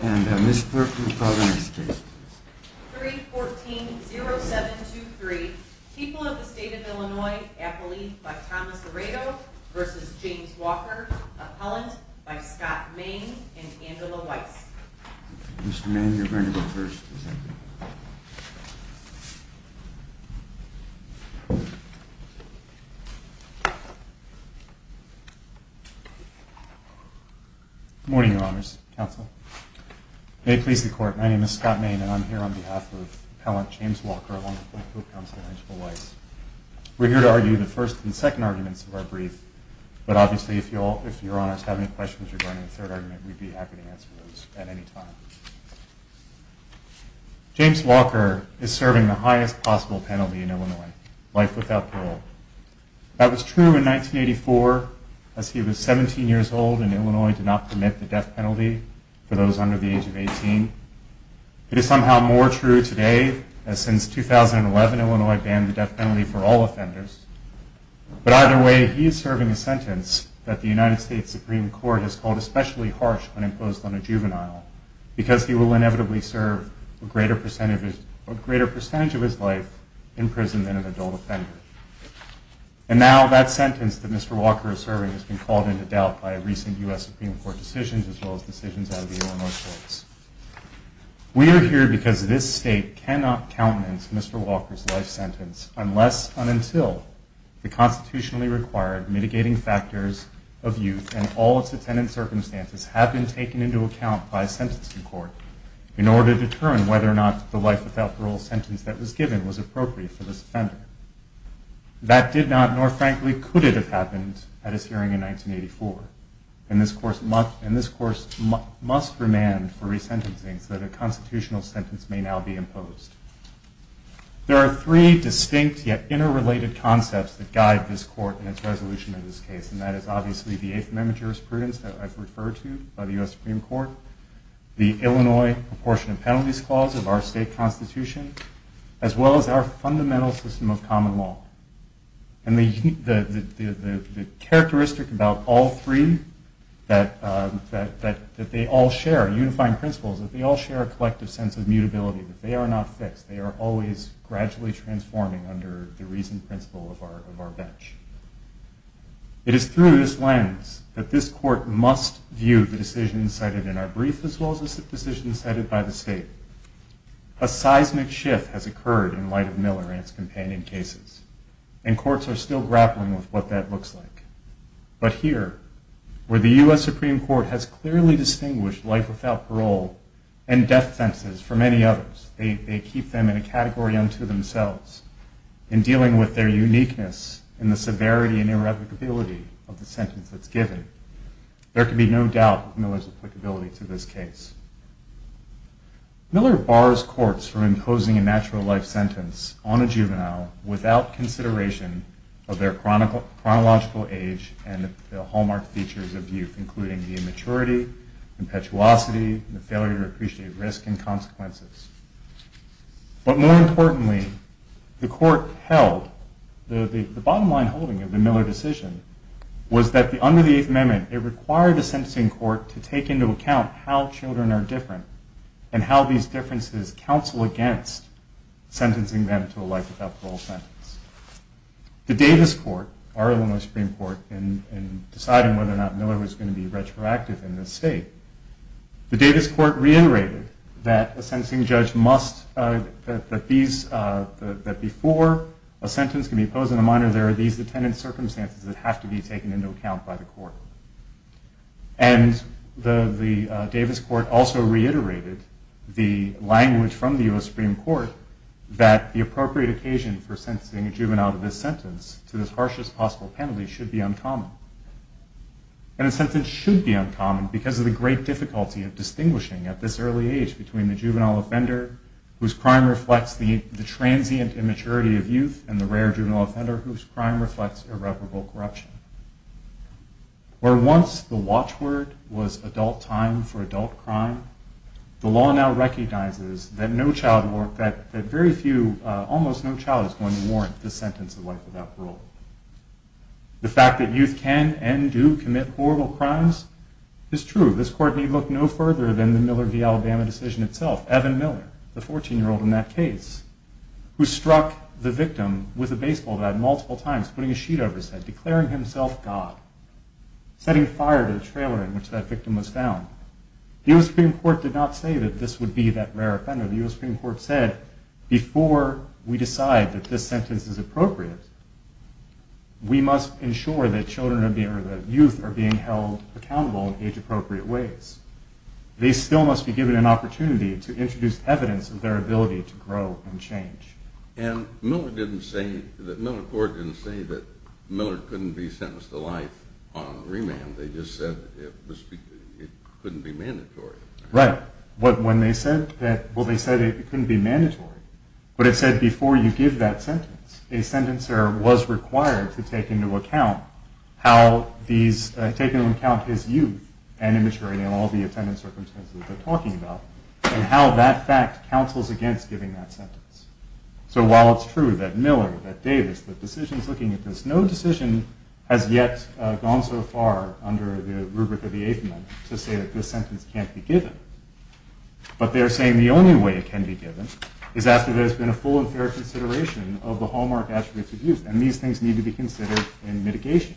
314-0723 People of the State of Illinois, Appellee by Thomas Aredo v. James Walker, Appellant by Scott Maine and Angela Weiss Mr. Maine, you're going to go first. Good morning, Your Honors, Counsel. May it please the Court, my name is Scott Maine and I'm here on behalf of Appellant James Walker along with my co-counsel, Angela Weiss. We're here to argue the first and second arguments of our brief, but obviously if Your Honors have any questions regarding the third argument, we'd be happy to answer those at any time. James Walker is serving the highest possible penalty in Illinois, life without parole. That was true in 1984 as he was 17 years old and Illinois did not permit the death penalty for those under the age of 18. It is somehow more true today as since 2011, Illinois banned the death penalty for all offenders. But either way, he is serving a sentence that the United States Supreme Court has called especially harsh when imposed on a juvenile, because he will inevitably serve a greater percentage of his life in prison than an adult offender. And now that sentence that Mr. Walker is serving has been called into doubt by recent U.S. Supreme Court decisions as well as decisions out of the Illinois courts. We are here because this state cannot countenance Mr. Walker's life sentence unless and until the constitutionally required mitigating factors of youth and all its attendant circumstances have been taken into account by a sentencing court in order to determine whether or not the life without parole sentence that was given was appropriate for this offender. That did not nor frankly could it have happened at his hearing in 1984. And this course must remand for resentencing so that a constitutional sentence may now be imposed. There are three distinct yet interrelated concepts that guide this court in its resolution of this case, and that is obviously the 8th Amendment jurisprudence that I've referred to by the U.S. Supreme Court, the Illinois Proportion of Penalties Clause of our state constitution, as well as our fundamental system of common law. And the characteristic about all three, that they all share unifying principles, that they all share a collective sense of mutability, that they are not fixed, they are always gradually transforming under the reasoned principle of our bench. It is through this lens that this court must view the decisions cited in our brief as well as the decisions cited by the state. A seismic shift has occurred in light of Miller and his companion cases, and courts are still grappling with what that looks like. But here, where the U.S. Supreme Court has clearly distinguished life without parole and death sentences from any others, they keep them in a category unto themselves. In dealing with their uniqueness and the severity and irrevocability of the sentence that's given, there can be no doubt of Miller's applicability to this case. Miller bars courts from imposing a natural life sentence on a juvenile without consideration of their chronological age and the hallmark features of youth, including the immaturity, impetuosity, and the failure to appreciate risk and consequences. But more importantly, the court held, the bottom line holding of the Miller decision, was that under the Eighth Amendment, it required the sentencing court to take into account how children are different, and how these differences counsel against sentencing them to a life without parole sentence. The Davis Court, our Illinois Supreme Court, in deciding whether or not Miller was going to be retroactive in this state, the Davis Court reiterated that a sentencing judge must, that before a sentence can be imposed on a minor, there are these attendant circumstances that have to be taken into account by the court. And the Davis Court also reiterated the language from the U.S. Supreme Court that the appropriate occasion for sentencing a juvenile to this sentence to the harshest possible penalty should be uncommon. And a sentence should be uncommon because of the great difficulty of distinguishing at this early age between the juvenile offender whose crime reflects the transient immaturity of youth and the rare juvenile offender whose crime reflects irreparable corruption. Where once the watchword was adult time for adult crime, the law now recognizes that very few, almost no child is going to warrant the sentence of life without parole. The fact that youth can and do commit horrible crimes is true. This court need look no further than the Miller v. Alabama decision itself. Evan Miller, the 14-year-old in that case, who struck the victim with a baseball bat multiple times, putting a sheet over his head, declaring himself God, setting fire to the trailer in which that victim was found. The U.S. Supreme Court did not say that this would be that rare offender. The U.S. Supreme Court said, before we decide that this sentence is appropriate, we must ensure that youth are being held accountable in age-appropriate ways. They still must be given an opportunity to introduce evidence of their ability to grow and change. And Miller court didn't say that Miller couldn't be sentenced to life on remand. They just said it couldn't be mandatory. Right. When they said that, well, they said it couldn't be mandatory. But it said before you give that sentence, a sentencer was required to take into account how these, take into account his youth and immaturity and all the attendance circumstances they're talking about and how that fact counsels against giving that sentence. So while it's true that Miller, that Davis, the decisions looking at this, no decision has yet gone so far under the rubric of the eighth amendment to say that this sentence can't be given. But they're saying the only way it can be given is after there's been a full and fair consideration of the hallmark attributes of youth. And these things need to be considered in mitigation.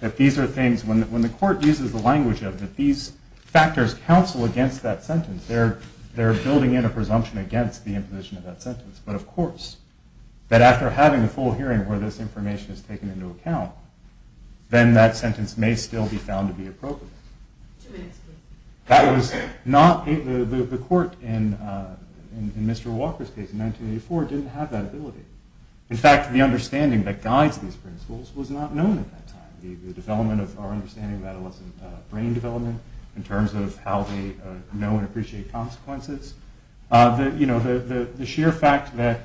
That these are things, when the court uses the language of it, these factors counsel against that sentence. They're building in a presumption against the imposition of that sentence. But, of course, that after having a full hearing where this information is taken into account, then that sentence may still be found to be appropriate. Two minutes, please. That was not, the court in Mr. Walker's case in 1984 didn't have that ability. In fact, the understanding that guides these principles was not known at that time. The development of our understanding of adolescent brain development in terms of how they know and appreciate consequences. The sheer fact that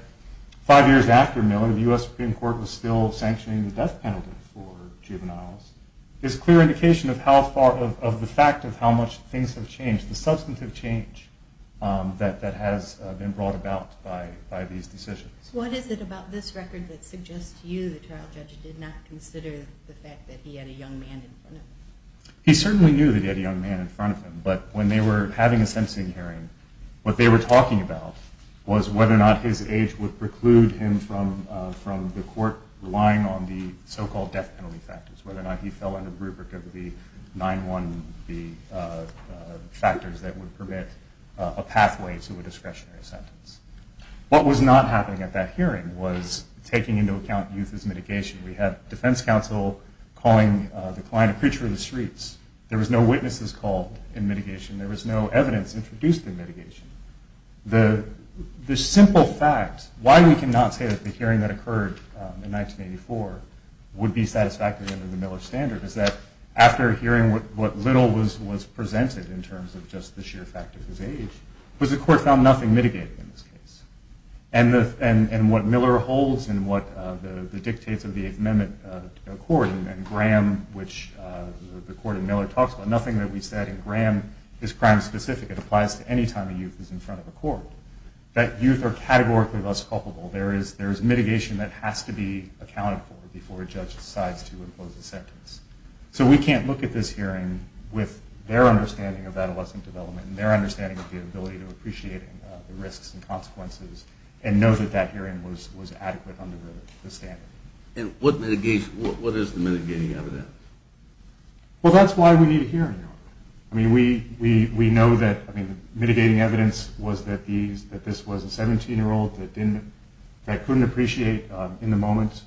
five years after Miller, the U.S. Supreme Court was still sanctioning the death penalty for juveniles, is a clear indication of the fact of how much things have changed, the substantive change that has been brought about by these decisions. What is it about this record that suggests to you the trial judge did not consider the fact that he had a young man in front of him? He certainly knew that he had a young man in front of him. But when they were having a sentencing hearing, what they were talking about was whether or not his age would preclude him from the court relying on the so-called death penalty factors, whether or not he fell under the rubric of the 9-1-B factors that would permit a pathway to a discretionary sentence. What was not happening at that hearing was taking into account youth as mitigation. We had defense counsel calling the client a preacher in the streets. There was no witnesses called in mitigation. There was no evidence introduced in mitigation. The simple fact, why we cannot say that the hearing that occurred in 1984 would be satisfactory under the Miller standard, is that after hearing what little was presented in terms of just the sheer fact of his age, was the court found nothing mitigating in this case. And what Miller holds and what the dictates of the Eighth Amendment accord, and Graham, which the court in Miller talks about, nothing that we said in Graham is crime specific. It applies to any time a youth is in front of a court. That youth are categorically less culpable. There is mitigation that has to be accounted for before a judge decides to impose a sentence. So we can't look at this hearing with their understanding of adolescent development and their understanding of the ability to appreciate the risks and consequences and know that that hearing was adequate under the standard. And what is the mitigating evidence? Well, that's why we need a hearing. I mean, we know that mitigating evidence was that this was a 17-year-old that couldn't appreciate in the moment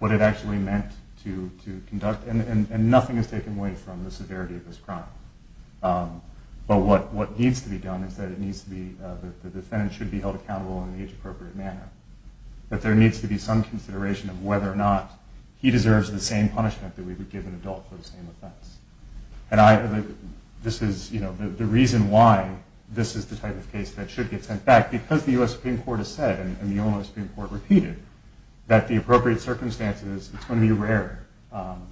what it actually meant to conduct, and nothing is taken away from the severity of this crime. But what needs to be done is that the defendant should be held accountable in the age-appropriate manner. That there needs to be some consideration of whether or not he deserves the same punishment that we would give an adult for the same offense. And this is the reason why this is the type of case that should get sent back because the U.S. Supreme Court has said, and the U.S. Supreme Court repeated, that the appropriate circumstances, it's going to be rare. The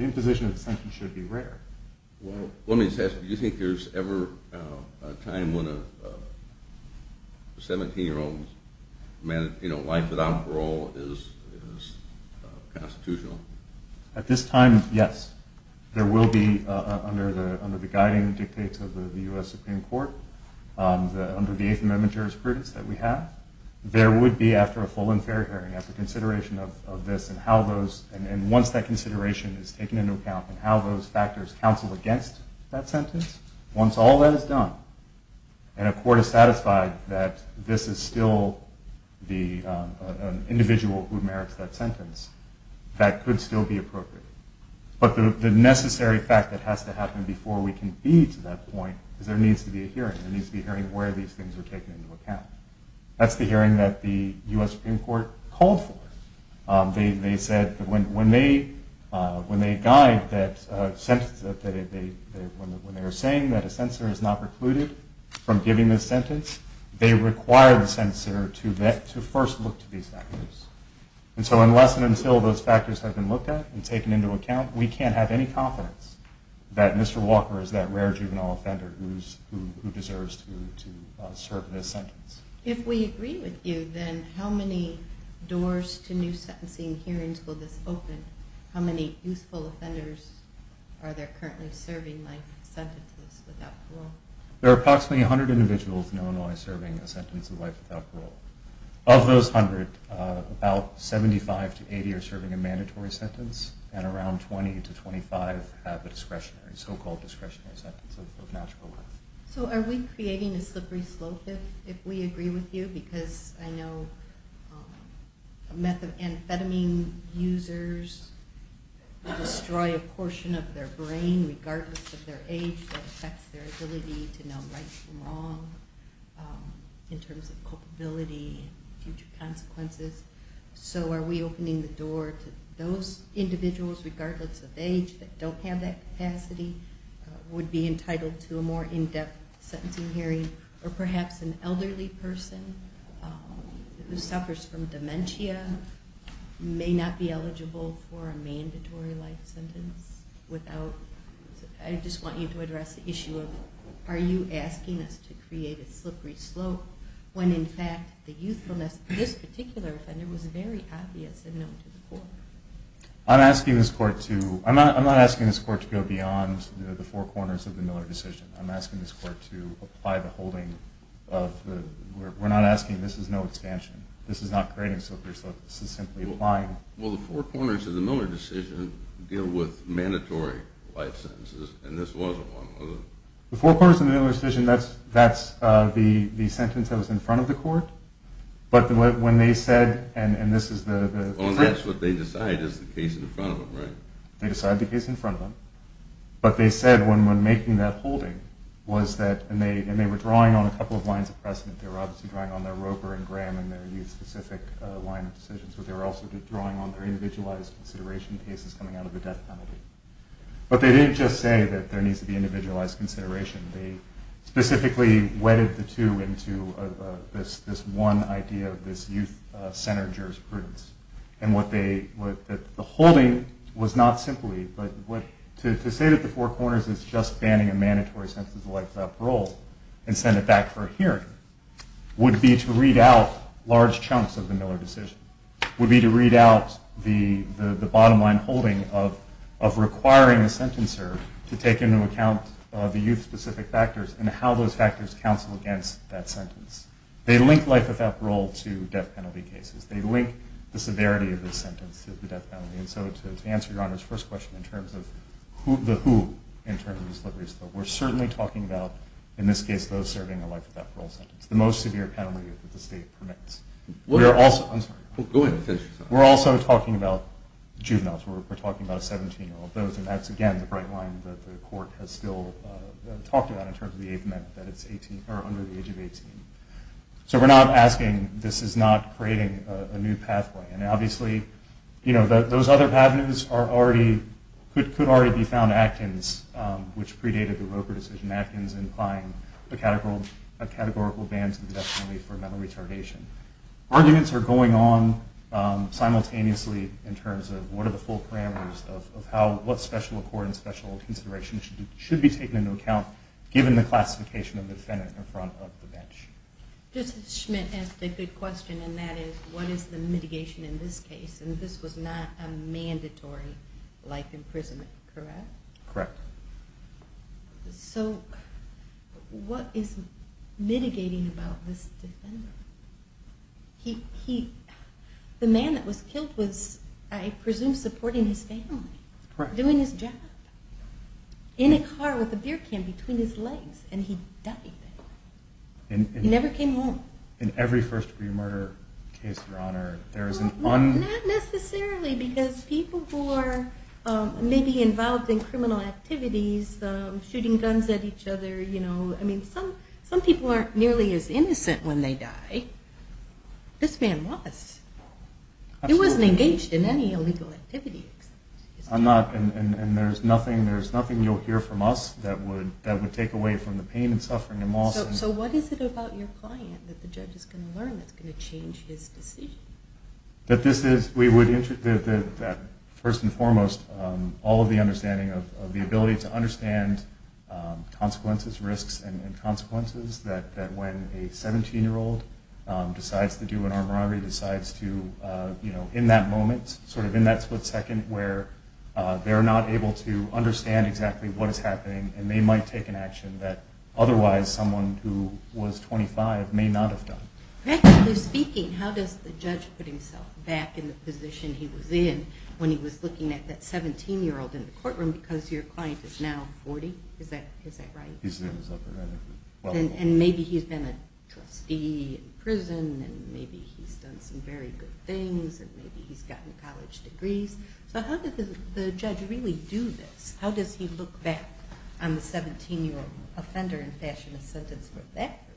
imposition of the sentence should be rare. Well, let me just ask, do you think there's ever a time when a 17-year-old's life without parole is constitutional? At this time, yes. There will be under the guiding dictates of the U.S. Supreme Court, under the 8th Amendment jurisprudence that we have, there would be after a full and fair hearing, after consideration of this and once that consideration is taken into account and how those factors counsel against that sentence, once all that is done and a court is satisfied that this is still an individual who merits that sentence, that could still be appropriate. But the necessary fact that has to happen before we can be to that point is there needs to be a hearing. There needs to be a hearing where these things are taken into account. That's the hearing that the U.S. Supreme Court called for. They said when they guide that sentence, when they were saying that a censor is not precluded from giving this sentence, they require the censor to first look to these factors. And so unless and until those factors have been looked at and taken into account, we can't have any confidence that Mr. Walker is that rare juvenile offender who deserves to serve this sentence. If we agree with you, then how many doors to new sentencing hearings will this open? How many youthful offenders are there currently serving life sentences without parole? There are approximately 100 individuals in Illinois serving a sentence of life without parole. Of those 100, about 75 to 80 are serving a mandatory sentence and around 20 to 25 have a discretionary, so-called discretionary sentence of natural birth. So are we creating a slippery slope if we agree with you? Because I know amphetamine users destroy a portion of their brain regardless of their age that affects their ability to know right from wrong in terms of culpability and future consequences. So are we opening the door to those individuals, regardless of age, that don't have that capacity, would be entitled to a more in-depth sentencing hearing? Or perhaps an elderly person who suffers from dementia may not be eligible for a mandatory life sentence without? I just want you to address the issue of are you asking us to create a slippery slope when, in fact, the youthfulness of this particular offender was very obvious and known to the court? I'm not asking this court to go beyond the four corners of the Miller decision. I'm asking this court to apply the holding of the... We're not asking this is no expansion. This is not creating a slippery slope. This is simply applying... Well, the four corners of the Miller decision deal with mandatory life sentences, and this wasn't one of them. The four corners of the Miller decision, that's the sentence that was in front of the court, but when they said, and this is the... Oh, and that's what they decide is the case in front of them, right? They decide the case in front of them, but they said when making that holding was that... And they were drawing on a couple of lines of precedent. They were obviously drawing on their Roper and Graham and their youth-specific line of decisions, but they were also drawing on their individualized consideration cases coming out of the death penalty. But they didn't just say that there needs to be individualized consideration. They specifically wedded the two into this one idea of this youth-centered jurisprudence, and what they... The holding was not simply... To say that the four corners is just banning a mandatory sentence like parole and send it back for a hearing would be to read out large chunks of the Miller decision, would be to read out the bottom-line holding of requiring a sentencer to take into account the youth-specific factors and how those factors counsel against that sentence. They link life without parole to death penalty cases. They link the severity of the sentence to the death penalty. And so to answer Your Honor's first question in terms of the who in terms of these liberties, we're certainly talking about, in this case, those serving a life without parole sentence, the most severe penalty that the state permits. We're also... I'm sorry. Go ahead and finish. We're also talking about juveniles. We're talking about a 17-year-old. Those, and that's, again, the bright line that the court has still talked about in terms of the age limit, that it's under the age of 18. So we're not asking... This is not creating a new pathway. And obviously, you know, those other avenues are already... Could already be found in Actons, which predated the Roper decision. Actons implying a categorical ban to the death penalty for mental retardation. Arguments are going on simultaneously in terms of what are the full parameters of what special accord and special consideration should be taken into account given the classification of the defendant in front of the bench. Justice Schmitt asked a good question, and that is, what is the mitigation in this case? And this was not a mandatory life imprisonment, correct? Correct. So what is mitigating about this defendant? The man that was killed was, I presume, supporting his family, doing his job, in a car with a beer can between his legs, and he died. He never came home. In every first-degree murder case, Your Honor, there is an... Not necessarily, because people who are maybe involved in criminal activities, shooting guns at each other, you know... I mean, some people aren't nearly as innocent when they die. This man was. He wasn't engaged in any illegal activity. I'm not, and there's nothing you'll hear from us that would take away from the pain and suffering in Mawson. So what is it about your client that the judge is going to learn that's going to change his decision? That this is... First and foremost, all of the understanding of the ability to understand consequences, risks, and consequences, that when a 17-year-old decides to do an armed robbery, decides to, you know, in that moment, sort of in that split second, where they're not able to understand exactly what is happening, and they might take an action that otherwise someone who was 25 may not have done. Practically speaking, how does the judge put himself back in the position he was in when he was looking at that 17-year-old in the courtroom, because your client is now 40? Is that right? He's in his upper right ankle. And maybe he's been a trustee in prison, and maybe he's done some very good things, and maybe he's gotten college degrees. So how does the judge really do this? How does he look back on the 17-year-old offender and fashion a sentence for that person?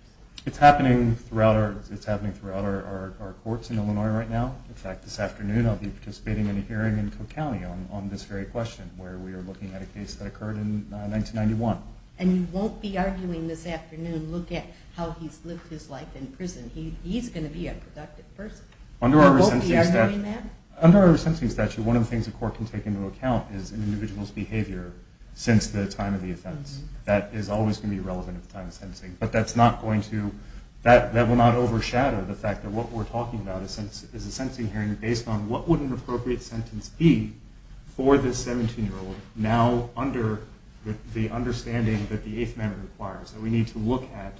It's happening throughout our courts in Illinois right now. In fact, this afternoon I'll be participating in a hearing in Cook County on this very question, where we are looking at a case that occurred in 1991. And you won't be arguing this afternoon, look at how he's lived his life in prison. He's going to be a productive person. Under our resentencing statute, one of the things a court can take into account is an individual's behavior since the time of the offense. That is always going to be relevant at the time of sentencing, but that will not overshadow the fact that what we're talking about is a sentencing hearing based on what would an appropriate sentence be for this 17-year-old, now under the understanding that the Eighth Amendment requires, that we need to look at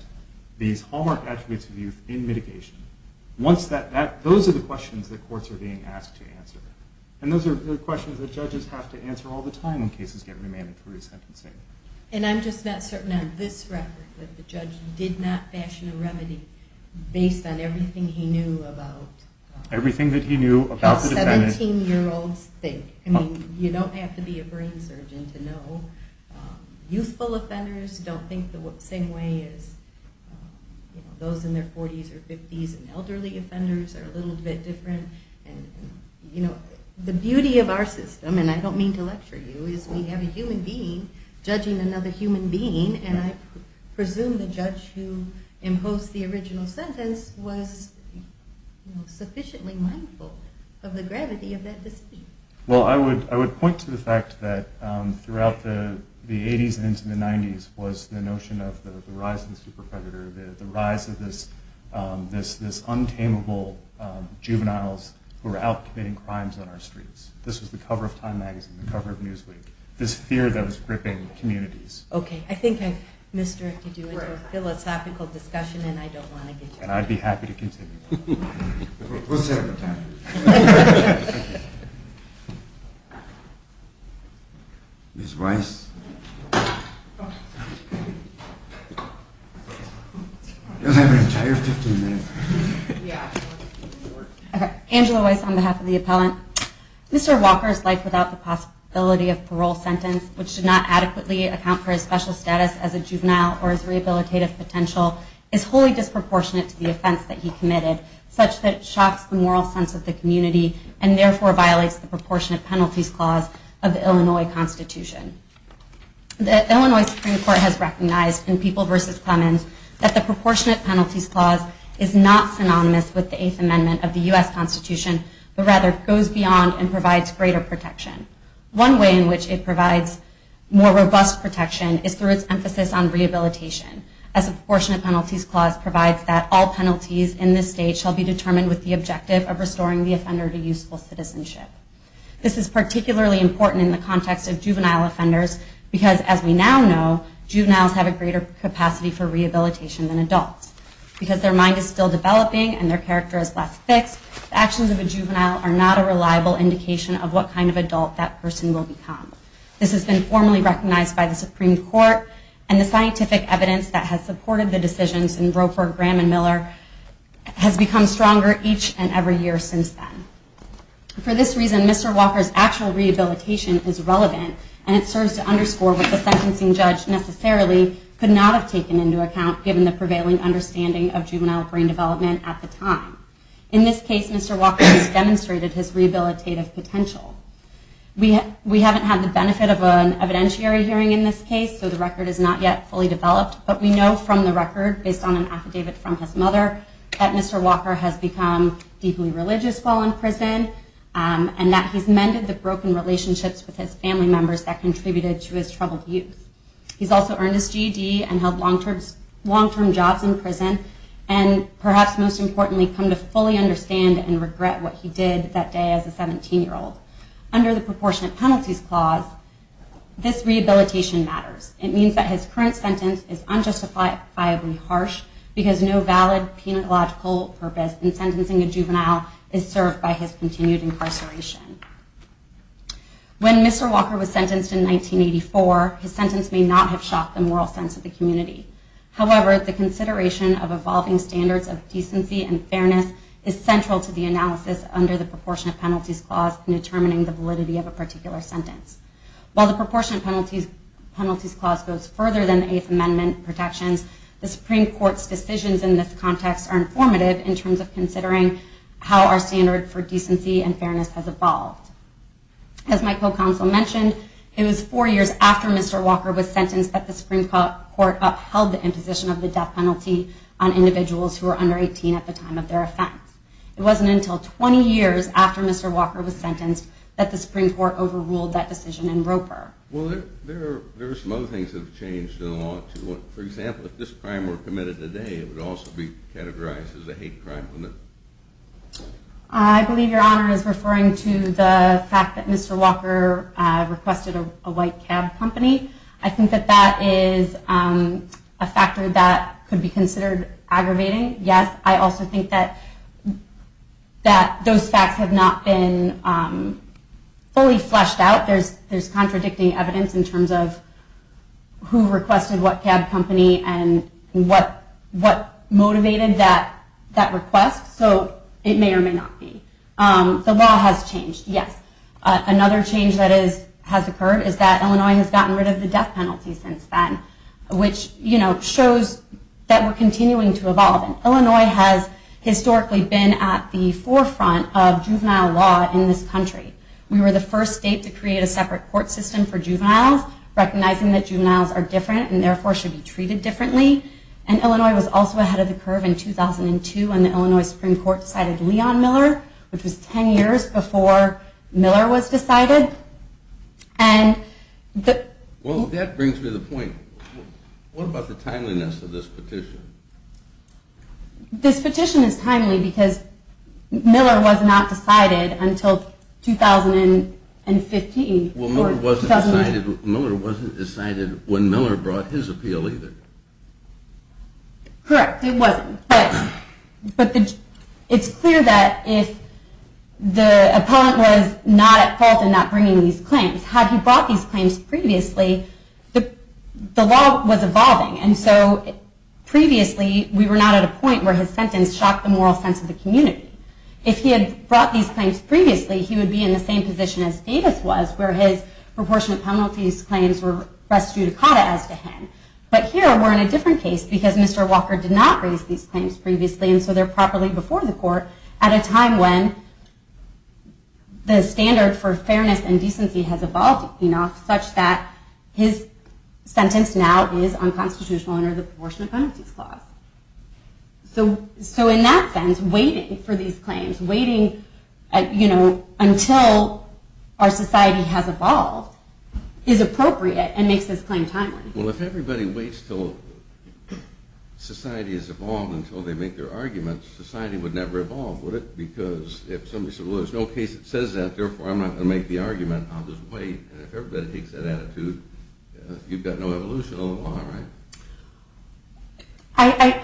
these hallmark attributes of youth in mitigation. Those are the questions that courts are being asked to answer. And those are the questions that judges have to answer all the time when cases get remanded for resentencing. And I'm just not certain on this record that the judge did not fashion a remedy based on everything he knew about the 17-year-old's thing. You don't have to be a brain surgeon to know. Youthful offenders don't think the same way as those in their 40s or 50s, and elderly offenders are a little bit different. The beauty of our system, and I don't mean to lecture you, is we have a human being judging another human being, and I presume the judge who imposed the original sentence was sufficiently mindful of the gravity of that decision. Well, I would point to the fact that throughout the 80s and into the 90s was the notion of the rise of the super predator, the rise of this untamable juveniles who were out committing crimes on our streets. This was the cover of Time Magazine, the cover of Newsweek, this fear that was gripping communities. Okay, I think I've misdirected you into a philosophical discussion, and I don't want to get you in trouble. And I'd be happy to continue. We'll set up a timer. Ms. Weiss? We'll have an entire 15 minutes. Okay, Angela Weiss on behalf of the appellant. Mr. Walker's life without the possibility of parole sentence, which did not adequately account for his special status as a juvenile or his rehabilitative potential, is wholly disproportionate to the offense that he committed, such that it shocks the moral sense of the community, and therefore violates the proportionate penalties clause of the Illinois Constitution. The Illinois Supreme Court has recognized in People v. Clemens that the proportionate penalties clause is not synonymous with the Eighth Amendment of the U.S. Constitution, but rather goes beyond and provides greater protection. One way in which it provides more robust protection is through its emphasis on rehabilitation, as the proportionate penalties clause provides that all penalties in this state shall be determined with the objective of restoring the offender to useful citizenship. This is particularly important in the context of juvenile offenders, because as we now know, juveniles have a greater capacity for rehabilitation than adults. Because their mind is still developing and their character is less fixed, the actions of a juvenile are not a reliable indication of what kind of adult that person will become. This has been formally recognized by the Supreme Court, and the scientific evidence that has supported the decisions in Roper, Graham, and Miller has become stronger each and every year since then. For this reason, Mr. Walker's actual rehabilitation is relevant, and it serves to underscore what the sentencing judge necessarily could not have taken into account, given the prevailing understanding of juvenile brain development at the time. In this case, Mr. Walker has demonstrated his rehabilitative potential. We haven't had the benefit of an evidentiary hearing in this case, so the record is not yet fully developed, but we know from the record, based on an affidavit from his mother, that Mr. Walker has become deeply religious while in prison, and that he's mended the broken relationships with his family members that contributed to his troubled youth. He's also earned his GED and held long-term jobs in prison, and perhaps most importantly, come to fully understand and regret what he did that day as a 17-year-old. Under the Proportionate Penalties Clause, this rehabilitation matters. It means that his current sentence is unjustifiably harsh, because no valid pedagogical purpose in sentencing a juvenile is served by his continued incarceration. When Mr. Walker was sentenced in 1984, his sentence may not have shocked the moral sense of the community. However, the consideration of evolving standards of decency and fairness is central to the analysis under the Proportionate Penalties Clause in determining the validity of a particular sentence. While the Proportionate Penalties Clause goes further than the Eighth Amendment protections, the Supreme Court's decisions in this context are informative in terms of considering how our standard for decency and fairness has evolved. As my co-counsel mentioned, it was four years after Mr. Walker was sentenced that the Supreme Court upheld the imposition of the death penalty on individuals who were under 18 at the time of their offense. It wasn't until 20 years after Mr. Walker was sentenced that the Supreme Court overruled that decision in Roper. Well, there are some other things that have changed in the law, too. For example, if this crime were committed today, it would also be categorized as a hate crime, wouldn't it? I believe Your Honor is referring to the fact that Mr. Walker requested a white cab company. I think that that is a factor that could be considered aggravating. Yes, I also think that those facts have not been fully fleshed out. There's contradicting evidence in terms of who requested what cab company and what motivated that request, so it may or may not be. The law has changed, yes. Another change that has occurred is that Illinois has gotten rid of the death penalty since then, which shows that we're continuing to evolve. Illinois has historically been at the forefront of juvenile law in this country. We were the first state to create a separate court system for juveniles, recognizing that juveniles are different and therefore should be treated differently. Illinois was also ahead of the curve in 2002 when the Illinois Supreme Court decided Leon Miller, which was 10 years before Miller was decided. Well, that brings me to the point. What about the timeliness of this petition? This petition is timely because Miller was not decided until 2015. Well, Miller wasn't decided when Miller brought his appeal either. Correct, it wasn't. But it's clear that if the opponent was not at fault in not bringing these claims, had he brought these claims previously, the law was evolving. And so previously we were not at a point where his sentence shocked the moral sense of the community. If he had brought these claims previously, he would be in the same position as Davis was, where his proportionate penalties claims were res judicata as to him. But here we're in a different case because Mr. Walker did not raise these claims previously, and so they're properly before the court at a time when the standard for fairness and decency has evolved enough such that his sentence now is unconstitutional under the proportionate penalties clause. So in that sense, waiting for these claims, waiting until our society has evolved is appropriate and makes this claim timely. Well, if everybody waits until society has evolved until they make their arguments, society would never evolve, would it? Because if somebody said, well, there's no case that says that, therefore I'm not going to make the argument, I'll just wait. And if everybody takes that attitude, you've got no evolution of the law, right?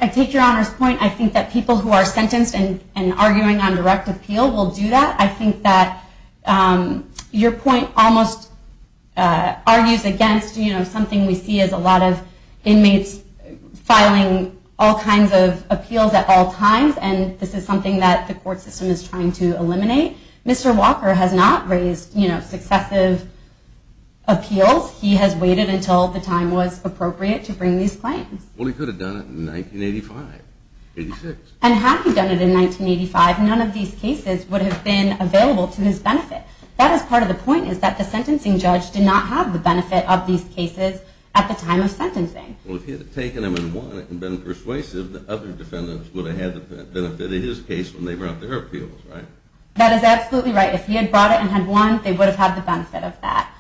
I take Your Honor's point. I think that people who are sentenced and arguing on direct appeal will do that. I think that your point almost argues against something we see as a lot of inmates filing all kinds of appeals at all times, and this is something that the court system is trying to eliminate. Mr. Walker has not raised successive appeals. He has waited until the time was appropriate to bring these claims. Well, he could have done it in 1985, 86. And had he done it in 1985, none of these cases would have been available to his benefit. That is part of the point is that the sentencing judge did not have the benefit of these cases at the time of sentencing. Well, if he had taken them and won it and been persuasive, the other defendants would have had the benefit in his case when they brought their appeals, right? That is absolutely right. If he had brought it and had won, they would have had the benefit of that.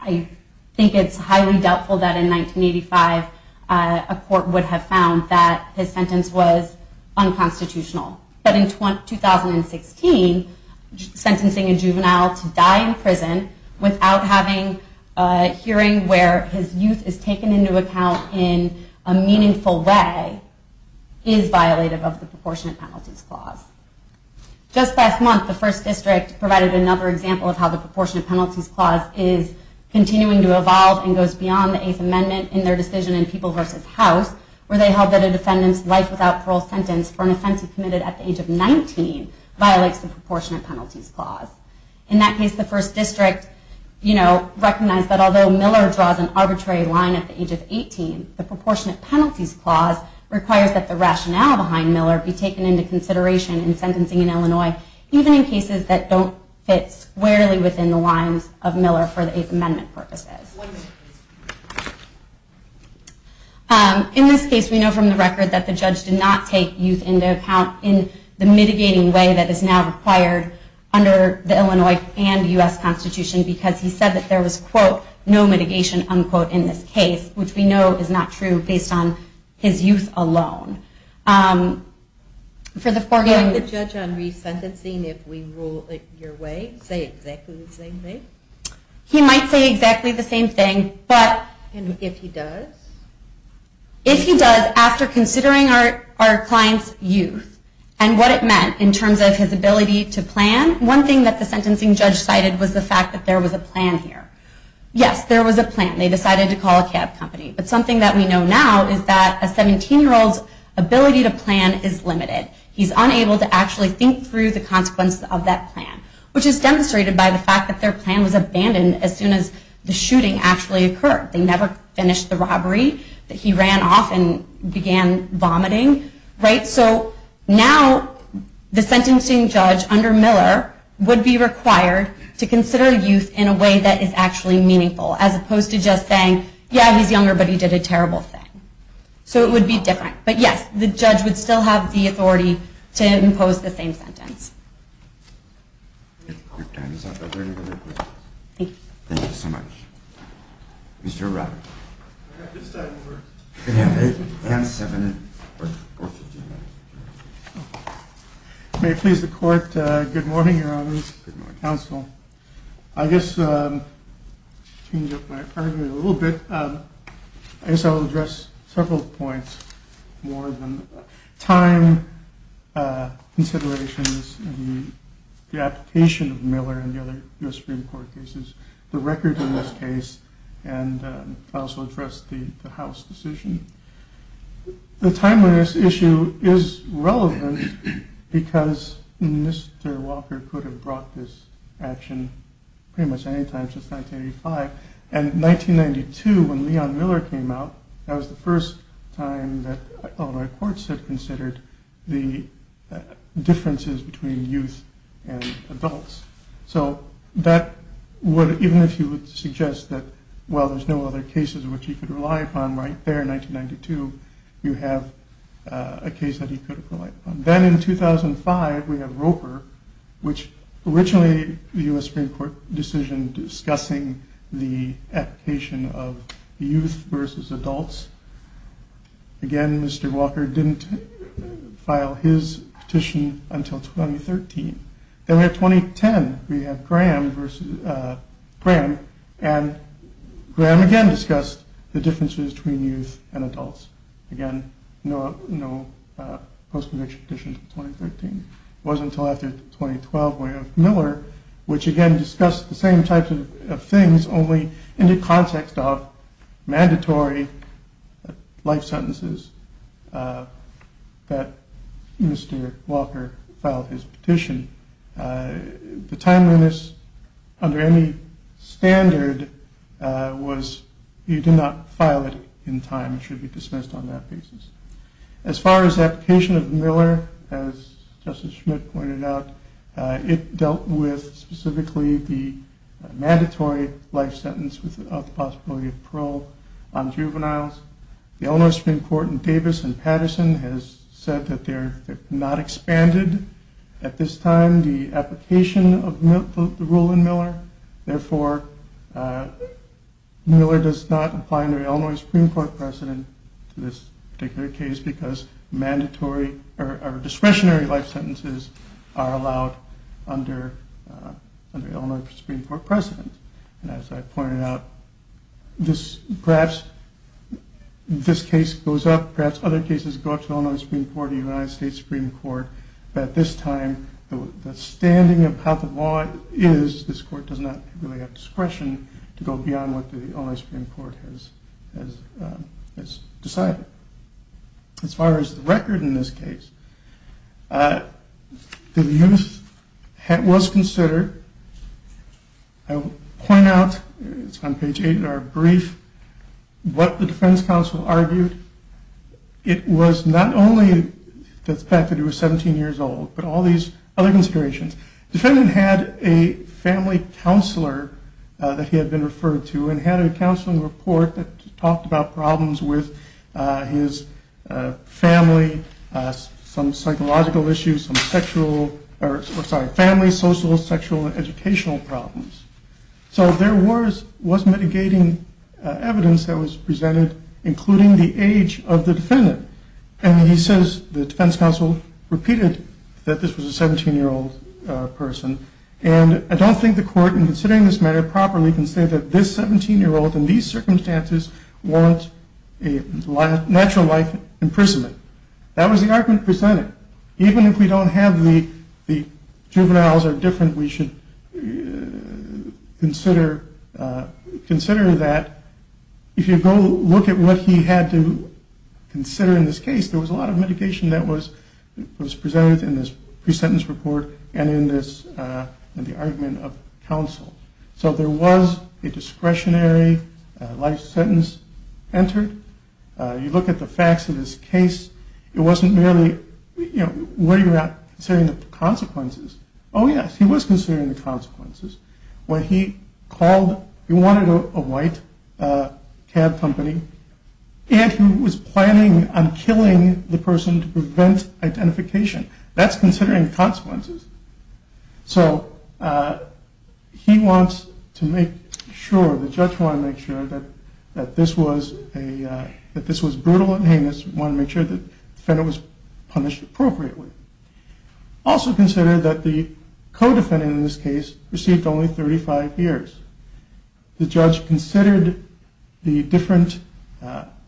I think it's highly doubtful that in 1985, a court would have found that his sentence was unconstitutional. But in 2016, sentencing a juvenile to die in prison without having a hearing where his youth is taken into account in a meaningful way is violated of the proportionate penalties clause. Just last month, the First District provided another example of how the proportionate penalties clause is continuing to evolve and goes beyond the Eighth Amendment in their decision in People v. House where they held that a defendant's life without parole sentence for an offense he committed at the age of 19 violates the proportionate penalties clause. In that case, the First District recognized that although Miller draws an arbitrary line at the age of 18, the proportionate penalties clause requires that the rationale behind Miller be taken into consideration in sentencing in Illinois, even in cases that don't fit squarely within the lines of Miller for the Eighth Amendment purposes. In this case, we know from the record that the judge did not take youth into account in the mitigating way that is now required under the Illinois and U.S. Constitution because he said that there was, quote, no mitigation, unquote, in this case, which we know is not true based on his youth alone. For the foregoing... Would the judge on resentencing, if we rule it your way, say exactly the same thing? He might say exactly the same thing, but... And if he does? If he does, after considering our client's youth and what it meant in terms of his ability to plan, one thing that the sentencing judge cited was the fact that there was a plan here. Yes, there was a plan. They decided to call a cab company. But something that we know now is that a 17-year-old's ability to plan is limited. He's unable to actually think through the consequences of that plan, which is demonstrated by the fact that their plan was abandoned as soon as the shooting actually occurred. They never finished the robbery. He ran off and began vomiting, right? So now the sentencing judge under Miller would be required to consider youth in a way that is actually meaningful as opposed to just saying, yeah, he's younger, but he did a terrible thing. So it would be different. But yes, the judge would still have the authority to impose the same sentence. Thank you so much. Mr. Roberts. May it please the Court, good morning, Your Honor, Counsel. I guess to change up my argument a little bit, I guess I will address several points more than time considerations and the application of Miller and the other U.S. Supreme Court cases, the record in this case, and also address the House decision. The timeliness issue is relevant because Mr. Walker could have brought this action pretty much any time since 1985. And in 1992, when Leon Miller came out, that was the first time that Illinois courts had considered the differences between youth and adults. So that would, even if you would suggest that, well, there's no other cases in which he could rely upon right there in 1992, you have a case that he could have relied upon. Then in 2005, we have Roper, which originally the U.S. Supreme Court decision discussing the application of youth versus adults. Again, Mr. Walker didn't file his petition until 2013. Then in 2010, we have Graham, and Graham again discussed the differences between youth and adults. Again, no post-conviction petition in 2013. It wasn't until after 2012 when Miller, which again discussed the same types of things only in the context of mandatory life sentences that Mr. Walker filed his petition. The timeliness under any standard was, you did not file it in time, it should be dismissed on that basis. As far as the application of Miller, as Justice Schmidt pointed out, it dealt with specifically the mandatory life sentence with the possibility of parole on juveniles. The Illinois Supreme Court in Davis and Patterson has said that they have not expanded, at this time, the application of the rule in Miller. Therefore, Miller does not apply under Illinois Supreme Court precedent to this particular case because discretionary life sentences are allowed under Illinois Supreme Court precedent. As I pointed out, perhaps this case goes up, perhaps other cases go up to Illinois Supreme Court or the United States Supreme Court, but at this time, the standing of how the law is, this court does not really have discretion to go beyond what the Illinois Supreme Court has decided. As far as the record in this case, the youth was considered. I will point out, it's on page 8 in our brief, what the defense counsel argued. It was not only the fact that he was 17 years old, but all these other considerations. The defendant had a family counselor that he had been referred to and had a counseling report that talked about problems with his family, some psychological issues, family, social, sexual, and educational problems. There was mitigating evidence that was presented, including the age of the defendant. He says the defense counsel repeated that this was a 17-year-old person. I don't think the court, in considering this matter properly, can say that this 17-year-old in these circumstances wants a natural life imprisonment. That was the argument presented. Even if we don't have the juveniles are different, we should consider that. If you go look at what he had to consider in this case, there was a lot of mitigation that was presented in this pre-sentence report and in the argument of counsel. So there was a discretionary life sentence entered. You look at the facts of this case. It wasn't merely, were you not considering the consequences? Oh, yes, he was considering the consequences. When he called, he wanted a white cab company, and he was planning on killing the person to prevent identification. That's considering consequences. So he wants to make sure, the judge wanted to make sure, that this was brutal and heinous. He wanted to make sure the defendant was punished appropriately. Also consider that the co-defendant in this case received only 35 years. The judge considered the different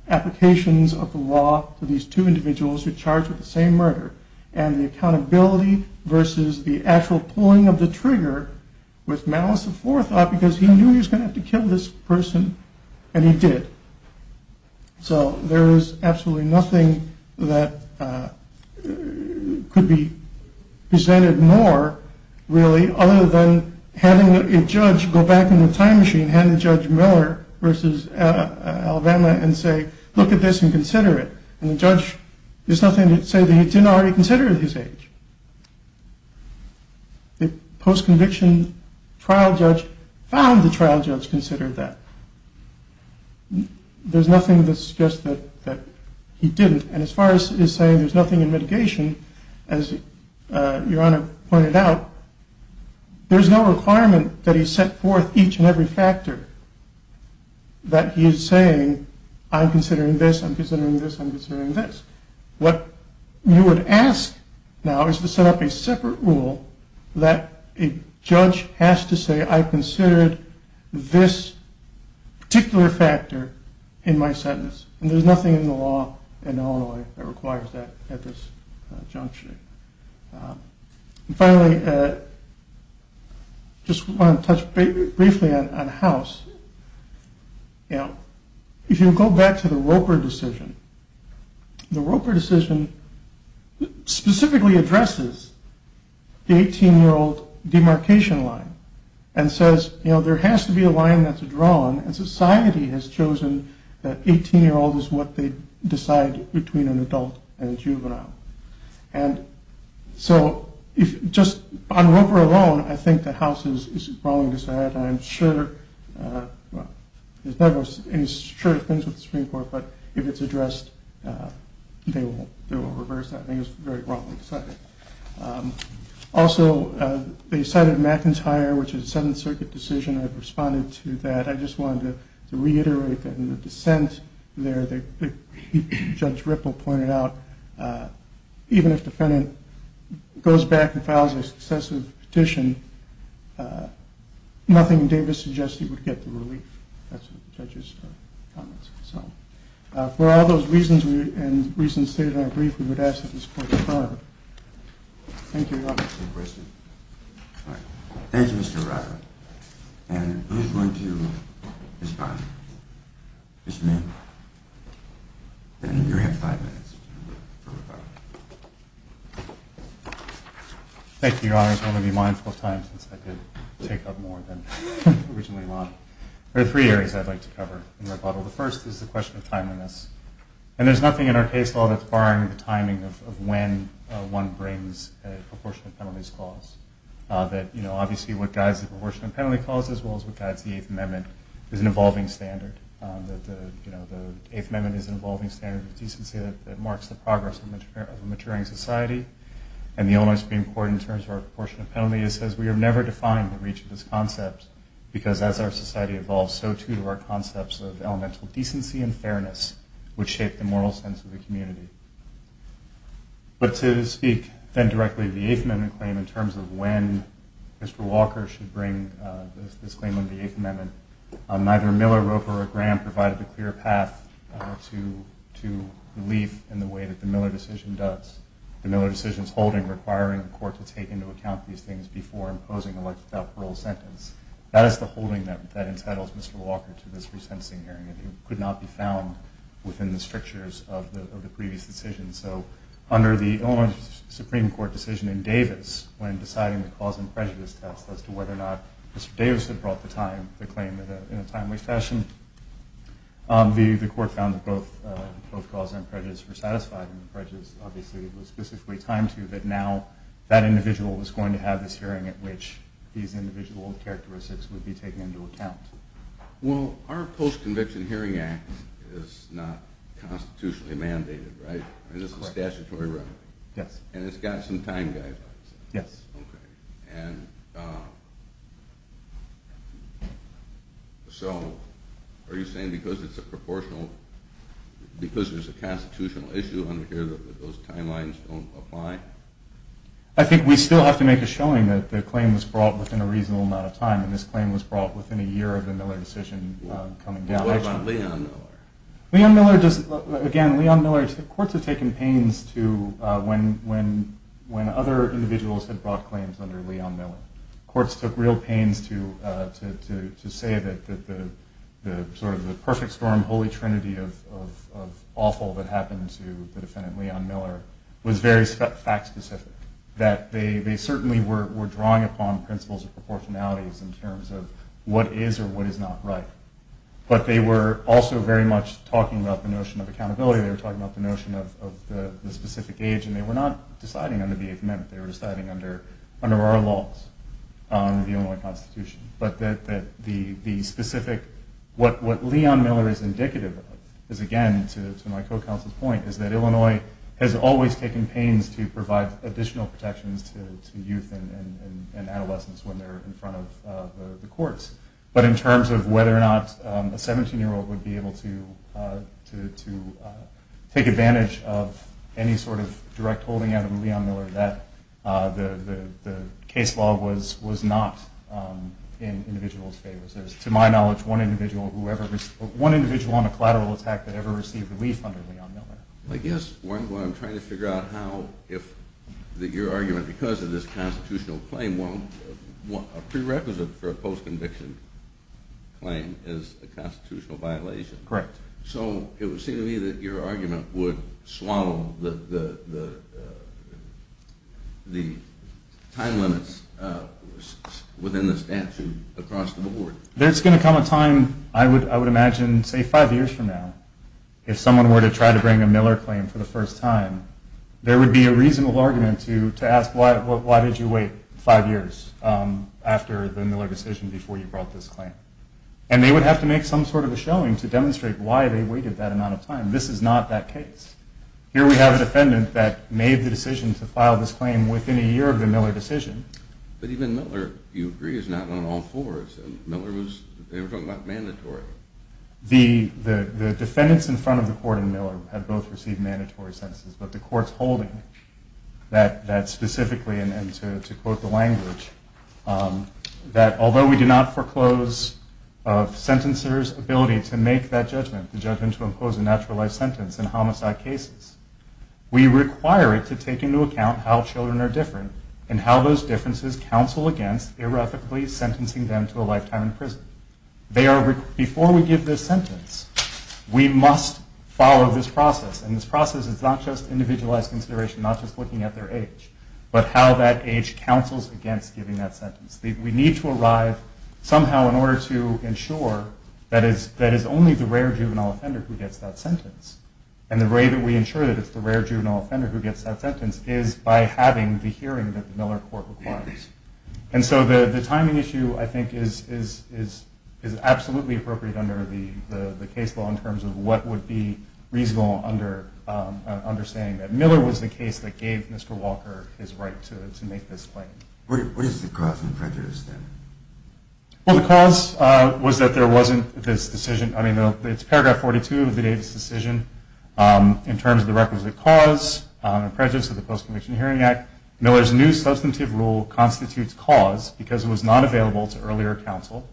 applications of the law to these two individuals who are charged with the same murder, and the accountability versus the actual pulling of the trigger with malice of forethought, because he knew he was going to have to kill this person, and he did. So there is absolutely nothing that could be presented more, really, other than having a judge go back in the time machine, and having Judge Miller versus Alabama, and say, look at this and consider it. And the judge, there's nothing to say that he didn't already consider his age. The post-conviction trial judge found the trial judge considered that. There's nothing that suggests that he didn't. And as far as saying there's nothing in mitigation, as Your Honor pointed out, there's no requirement that he set forth each and every factor that he is saying, I'm considering this, I'm considering this, I'm considering this. What you would ask now is to set up a separate rule that a judge has to say, I considered this particular factor in my sentence. And there's nothing in the law in Illinois that requires that at this juncture. Finally, I just want to touch briefly on House. If you go back to the Roper decision, the Roper decision specifically addresses the 18-year-old demarcation line, and says there has to be a line that's drawn, and society has chosen that 18-year-olds is what they decide between an adult and a juvenile. And so, just on Roper alone, I think the House is wrong to decide, and I'm sure, well, it's true of things with the Supreme Court, but if it's addressed, they will reverse that. I think it's very wrong to decide that. Also, they cited McIntyre, which is a Seventh Circuit decision. I've responded to that. I just wanted to reiterate that in the dissent there, as Judge Ripple pointed out, even if the defendant goes back and files a successive petition, nothing Davis suggested would get the relief. That's what the judge's comments were. For all those reasons and reasons stated in our brief, we would ask that this court defer. Thank you. Any questions? All right. Thank you, Mr. Ryder. And who's going to respond? Mr. Mann. Then you have five minutes. Thank you, Your Honors. I'm going to be mindful of time since I did take up more than originally wanted. There are three areas I'd like to cover in my bottle. The first is the question of timeliness, and there's nothing in our case law that's barring the timing of when one brings a proportionate penalties clause. Obviously what guides the proportionate penalty clause, as well as what guides the Eighth Amendment, is an evolving standard. The Eighth Amendment is an evolving standard of decency that marks the progress of a maturing society. And the Illinois Supreme Court, in terms of our proportionate penalty, says we have never defined the reach of this concept because as our society evolves, so too do our concepts of elemental decency and fairness, which shape the moral sense of the community. But to speak then directly to the Eighth Amendment claim, in terms of when Mr. Walker should bring this claim under the Eighth Amendment, neither Miller, Roper, or Graham provided a clear path to relief in the way that the Miller decision does. The Miller decision's holding requiring the court to take into account these things before imposing a life-without-parole sentence. That is the holding that entitles Mr. Walker to this resentencing hearing, and it could not be found within the strictures of the previous decision. So under the Illinois Supreme Court decision in Davis, when deciding the cause and prejudice test as to whether or not Mr. Davis had brought the claim in a timely fashion, the court found that both cause and prejudice were satisfied, and the prejudice, obviously, it was specifically timed to, that now that individual was going to have this hearing at which these individual characteristics would be taken into account. Well, our Post-Conviction Hearing Act is not constitutionally mandated, right? Correct. And it's a statutory remedy. Yes. And it's got some time guidelines. Yes. Okay. And so are you saying because it's a proportional, because there's a constitutional issue under here that those timelines don't apply? I think we still have to make a showing that the claim was brought within a reasonable amount of time, and this claim was brought within a year of the Miller decision coming down. What about Leon Miller? Leon Miller does, again, Leon Miller, courts have taken pains to, when other individuals had brought claims under Leon Miller, courts took real pains to say that the sort of the perfect storm, holy trinity of awful that happened to the defendant, Leon Miller, was very fact specific, that they certainly were drawing upon principles of proportionality in terms of what is or what is not right. But they were also very much talking about the notion of accountability. They were talking about the notion of the specific age, and they were not deciding under the Eighth Amendment. They were deciding under our laws, the Illinois Constitution. But the specific, what Leon Miller is indicative of is, again, to my co-counsel's point, is that Illinois has always taken pains to provide additional protections to youth and adolescents when they're in front of the courts. But in terms of whether or not a 17-year-old would be able to take advantage of any sort of direct holding out of Leon Miller, the case law was not in individuals' favor. To my knowledge, one individual on a collateral attack that ever received relief under Leon Miller. I guess what I'm trying to figure out how, if your argument, because of this constitutional claim, a prerequisite for a post-conviction claim is a constitutional violation. Correct. So it would seem to me that your argument would swallow the time limits within the statute across the board. There's going to come a time, I would imagine, say five years from now, if someone were to try to bring a Miller claim for the first time, there would be a reasonable argument to ask, why did you wait five years after the Miller decision before you brought this claim? And they would have to make some sort of a showing to demonstrate why they waited that amount of time. This is not that case. Here we have a defendant that made the decision to file this claim within a year of the Miller decision. But even Miller, you agree, is not on all fours. Miller was, they were talking about mandatory. The defendants in front of the court in Miller had both received mandatory sentences, but the court's holding that specifically, and to quote the language, that although we do not foreclose a sentencer's ability to make that judgment, the judgment to impose a natural life sentence in homicide cases, we require it to take into account how children are different and how those differences counsel against irrevocably sentencing them to a lifetime in prison. Before we give this sentence, we must follow this process. And this process is not just individualized consideration, not just looking at their age, but how that age counsels against giving that sentence. We need to arrive somehow in order to ensure that it's only the rare juvenile offender who gets that sentence. And the way that we ensure that it's the rare juvenile offender who gets that sentence is by having the hearing that the Miller court requires. And so the timing issue, I think, is absolutely appropriate under the case law in terms of what would be reasonable understanding that Miller was the case that gave Mr. Walker his right to make this claim. What is the cause and prejudice, then? Well, the cause was that there wasn't this decision. I mean, it's paragraph 42 of the Davis decision. In terms of the requisite cause and prejudice of the Post-Conviction Hearing Act, Miller's new substantive rule constitutes cause because it was not available to earlier counsel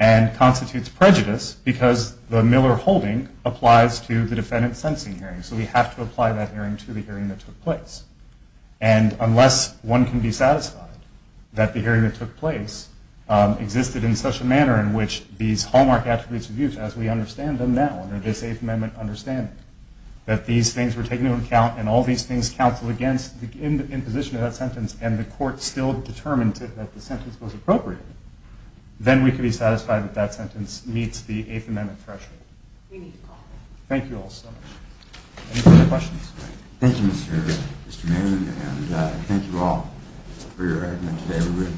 and constitutes prejudice because the Miller holding applies to the defendant's sentencing hearing. So we have to apply that hearing to the hearing that took place. And unless one can be satisfied that the hearing that took place existed in such a manner in which these hallmark attributes were used, as we understand them now under this Eighth Amendment understanding, that these things were taken into account and all these things counseled against the imposition of that sentence and the court still determined that the sentence was appropriate, then we could be satisfied that that sentence meets the Eighth Amendment threshold. Thank you all so much. Any further questions? Thank you, Mr. Manning, and thank you all for your argument today. We will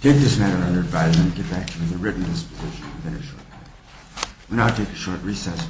take this matter under advisement and get back to you with a written disposition within a short time. We will now take a short recess.